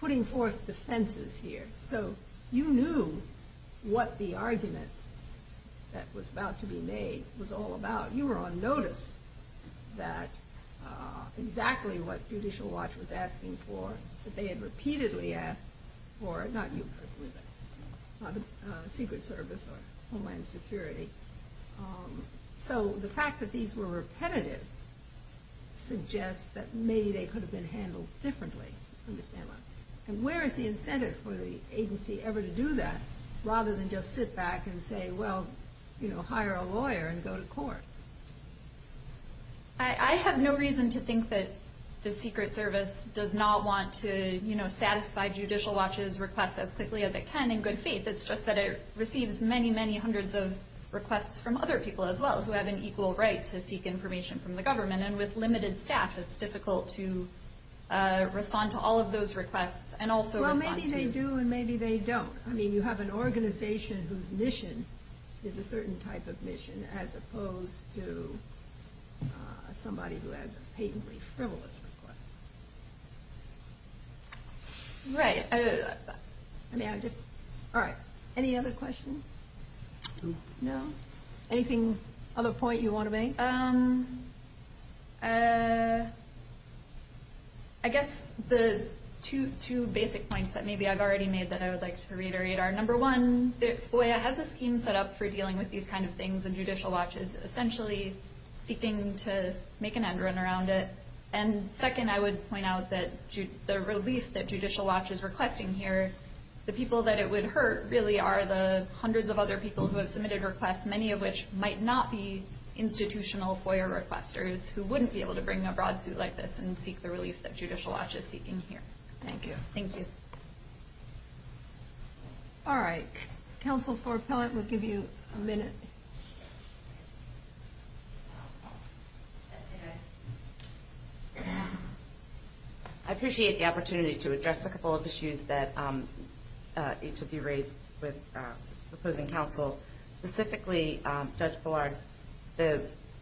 putting forth defenses here. So you knew what the argument that was about to be made was all about. You were on notice that exactly what Judicial Watch was asking for, that they had repeatedly asked for, not you personally, but the Secret Service or Homeland Security. So the fact that these were repetitive suggests that maybe they could have been handled differently, understandably. And where is the incentive for the agency ever to do that, rather than just sit back and say, well, hire a lawyer and go to court? I have no reason to think that the Secret Service does not want to satisfy Judicial Watch's request as quickly as it can in good faith. It's just that it receives many, many hundreds of requests from other people as well who have an equal right to seek information from the government. And with limited staff, it's difficult to respond to all of those requests and also respond to you. Well, maybe they do and maybe they don't. As opposed to somebody who has a patently frivolous request. Any other questions? No? Anything of a point you want to make? I guess the two basic points that maybe I've already made that I would like to reiterate are, number one, OIA has a scheme set up for dealing with these kind of things, and Judicial Watch is essentially seeking to make an end run around it. And second, I would point out that the relief that Judicial Watch is requesting here, the people that it would hurt really are the hundreds of other people who have submitted requests, many of which might not be institutional FOIA requesters who wouldn't be able to bring a broad suit like this and seek the relief that Judicial Watch is seeking here. Thank you. Thank you. All right. Counsel Ford-Pillard will give you a minute. I appreciate the opportunity to address a couple of issues that each of you raised with opposing counsel. Specifically, Judge Pillard,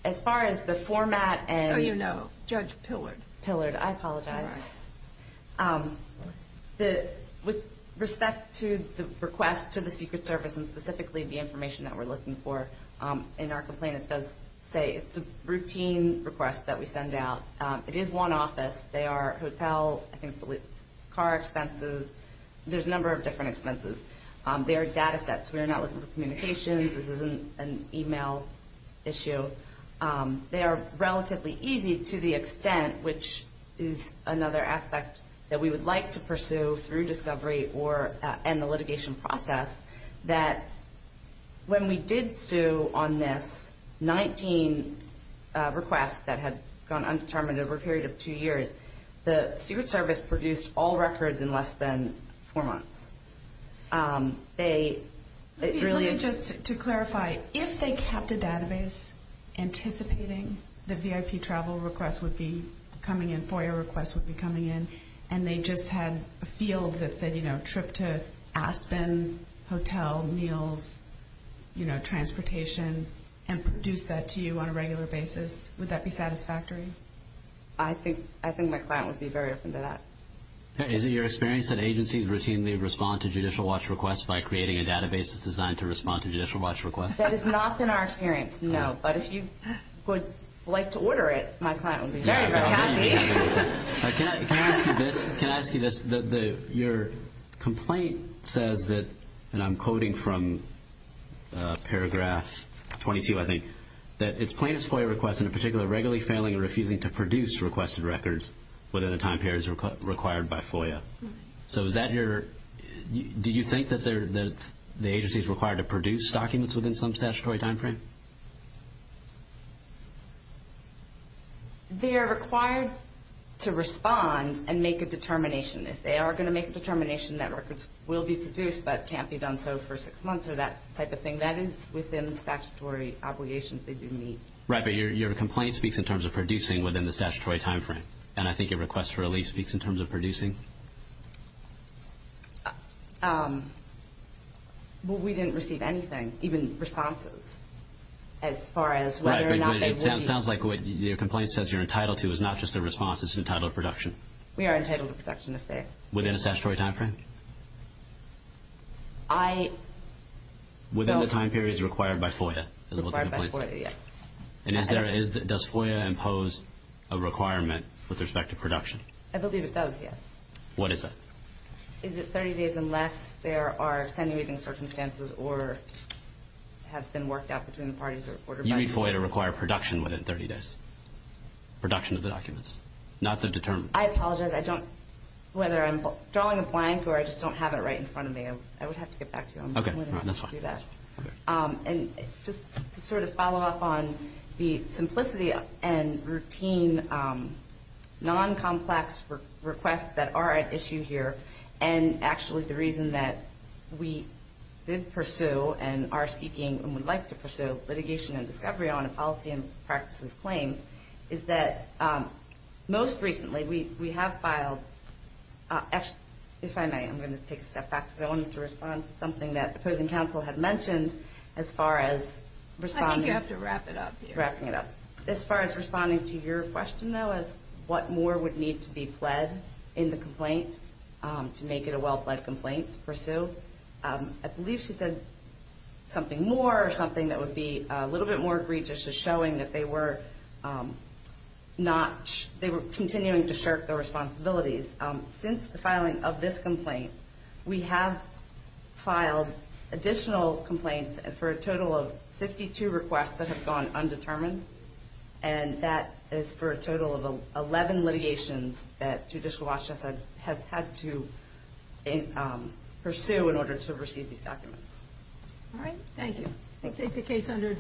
as far as the format and- So you know. Judge Pillard. Pillard. I apologize. All right. With respect to the request to the Secret Service, and specifically the information that we're looking for in our complaint, it does say it's a routine request that we send out. It is one office. They are hotel, I think car expenses. There's a number of different expenses. They are data sets. We are not looking for communications. This isn't an email issue. They are relatively easy to the extent, which is another aspect that we would like to pursue through discovery and the litigation process, that when we did sue on this 19 requests that had gone undetermined over a period of two years, the Secret Service produced all records in less than four months. Let me just clarify. If they kept a database anticipating the VIP travel request would be coming in, FOIA request would be coming in, and they just had a field that said, you know, trip to Aspen, hotel, meals, you know, transportation, and produced that to you on a regular basis, would that be satisfactory? I think my client would be very open to that. Is it your experience that agencies routinely respond to judicial watch requests by creating a database that's designed to respond to judicial watch requests? That has not been our experience, no. But if you would like to order it, my client would be very, very happy. Can I ask you this? Your complaint says that, and I'm quoting from paragraph 22, I think, that it's plaintiff's FOIA request in particular regularly failing or refusing to comply with FOIA. So is that your – do you think that the agency is required to produce documents within some statutory timeframe? They are required to respond and make a determination. If they are going to make a determination that records will be produced but can't be done so for six months or that type of thing, that is within the statutory obligations they do meet. Right, but your complaint speaks in terms of producing within the statutory timeframe, and I think your request for relief speaks in terms of producing? Well, we didn't receive anything, even responses as far as whether or not they will be. Right, but it sounds like what your complaint says you're entitled to is not just a response. It's an entitled production. We are entitled to production if they're – Within a statutory timeframe? I – Within the time periods required by FOIA is what the complaint says. Required by FOIA, yes. And is there – does FOIA impose a requirement with respect to production? I believe it does, yes. What is that? Is it 30 days unless there are extenuating circumstances or have been worked out between the parties that reported by you? You need FOIA to require production within 30 days, production of the documents, not the determination. I apologize. I don't – whether I'm drawing a blank or I just don't have it right in front of me, I would have to get back to you on that. Okay, that's fine. And just to sort of follow up on the simplicity and routine, non-complex requests that are at issue here and actually the reason that we did pursue and are seeking and would like to pursue litigation and discovery on a policy and practices claim is that most recently we have filed – if I may, I'm going to take a step back because I wanted to respond to something that opposing counsel had mentioned as far as responding. I think you have to wrap it up here. Wrapping it up. As far as responding to your question, though, as what more would need to be pled in the complaint to make it a well-fled complaint to pursue, I believe she said something more or something that would be a little bit more egregious as showing that they were not – they were continuing to shirk their responsibilities. Since the filing of this complaint, we have filed additional complaints for a total of 52 requests that have gone undetermined, and that is for a total of 11 litigations that Judicial Watch has had to pursue in order to receive these documents. All right, thank you. Take the case under advisement.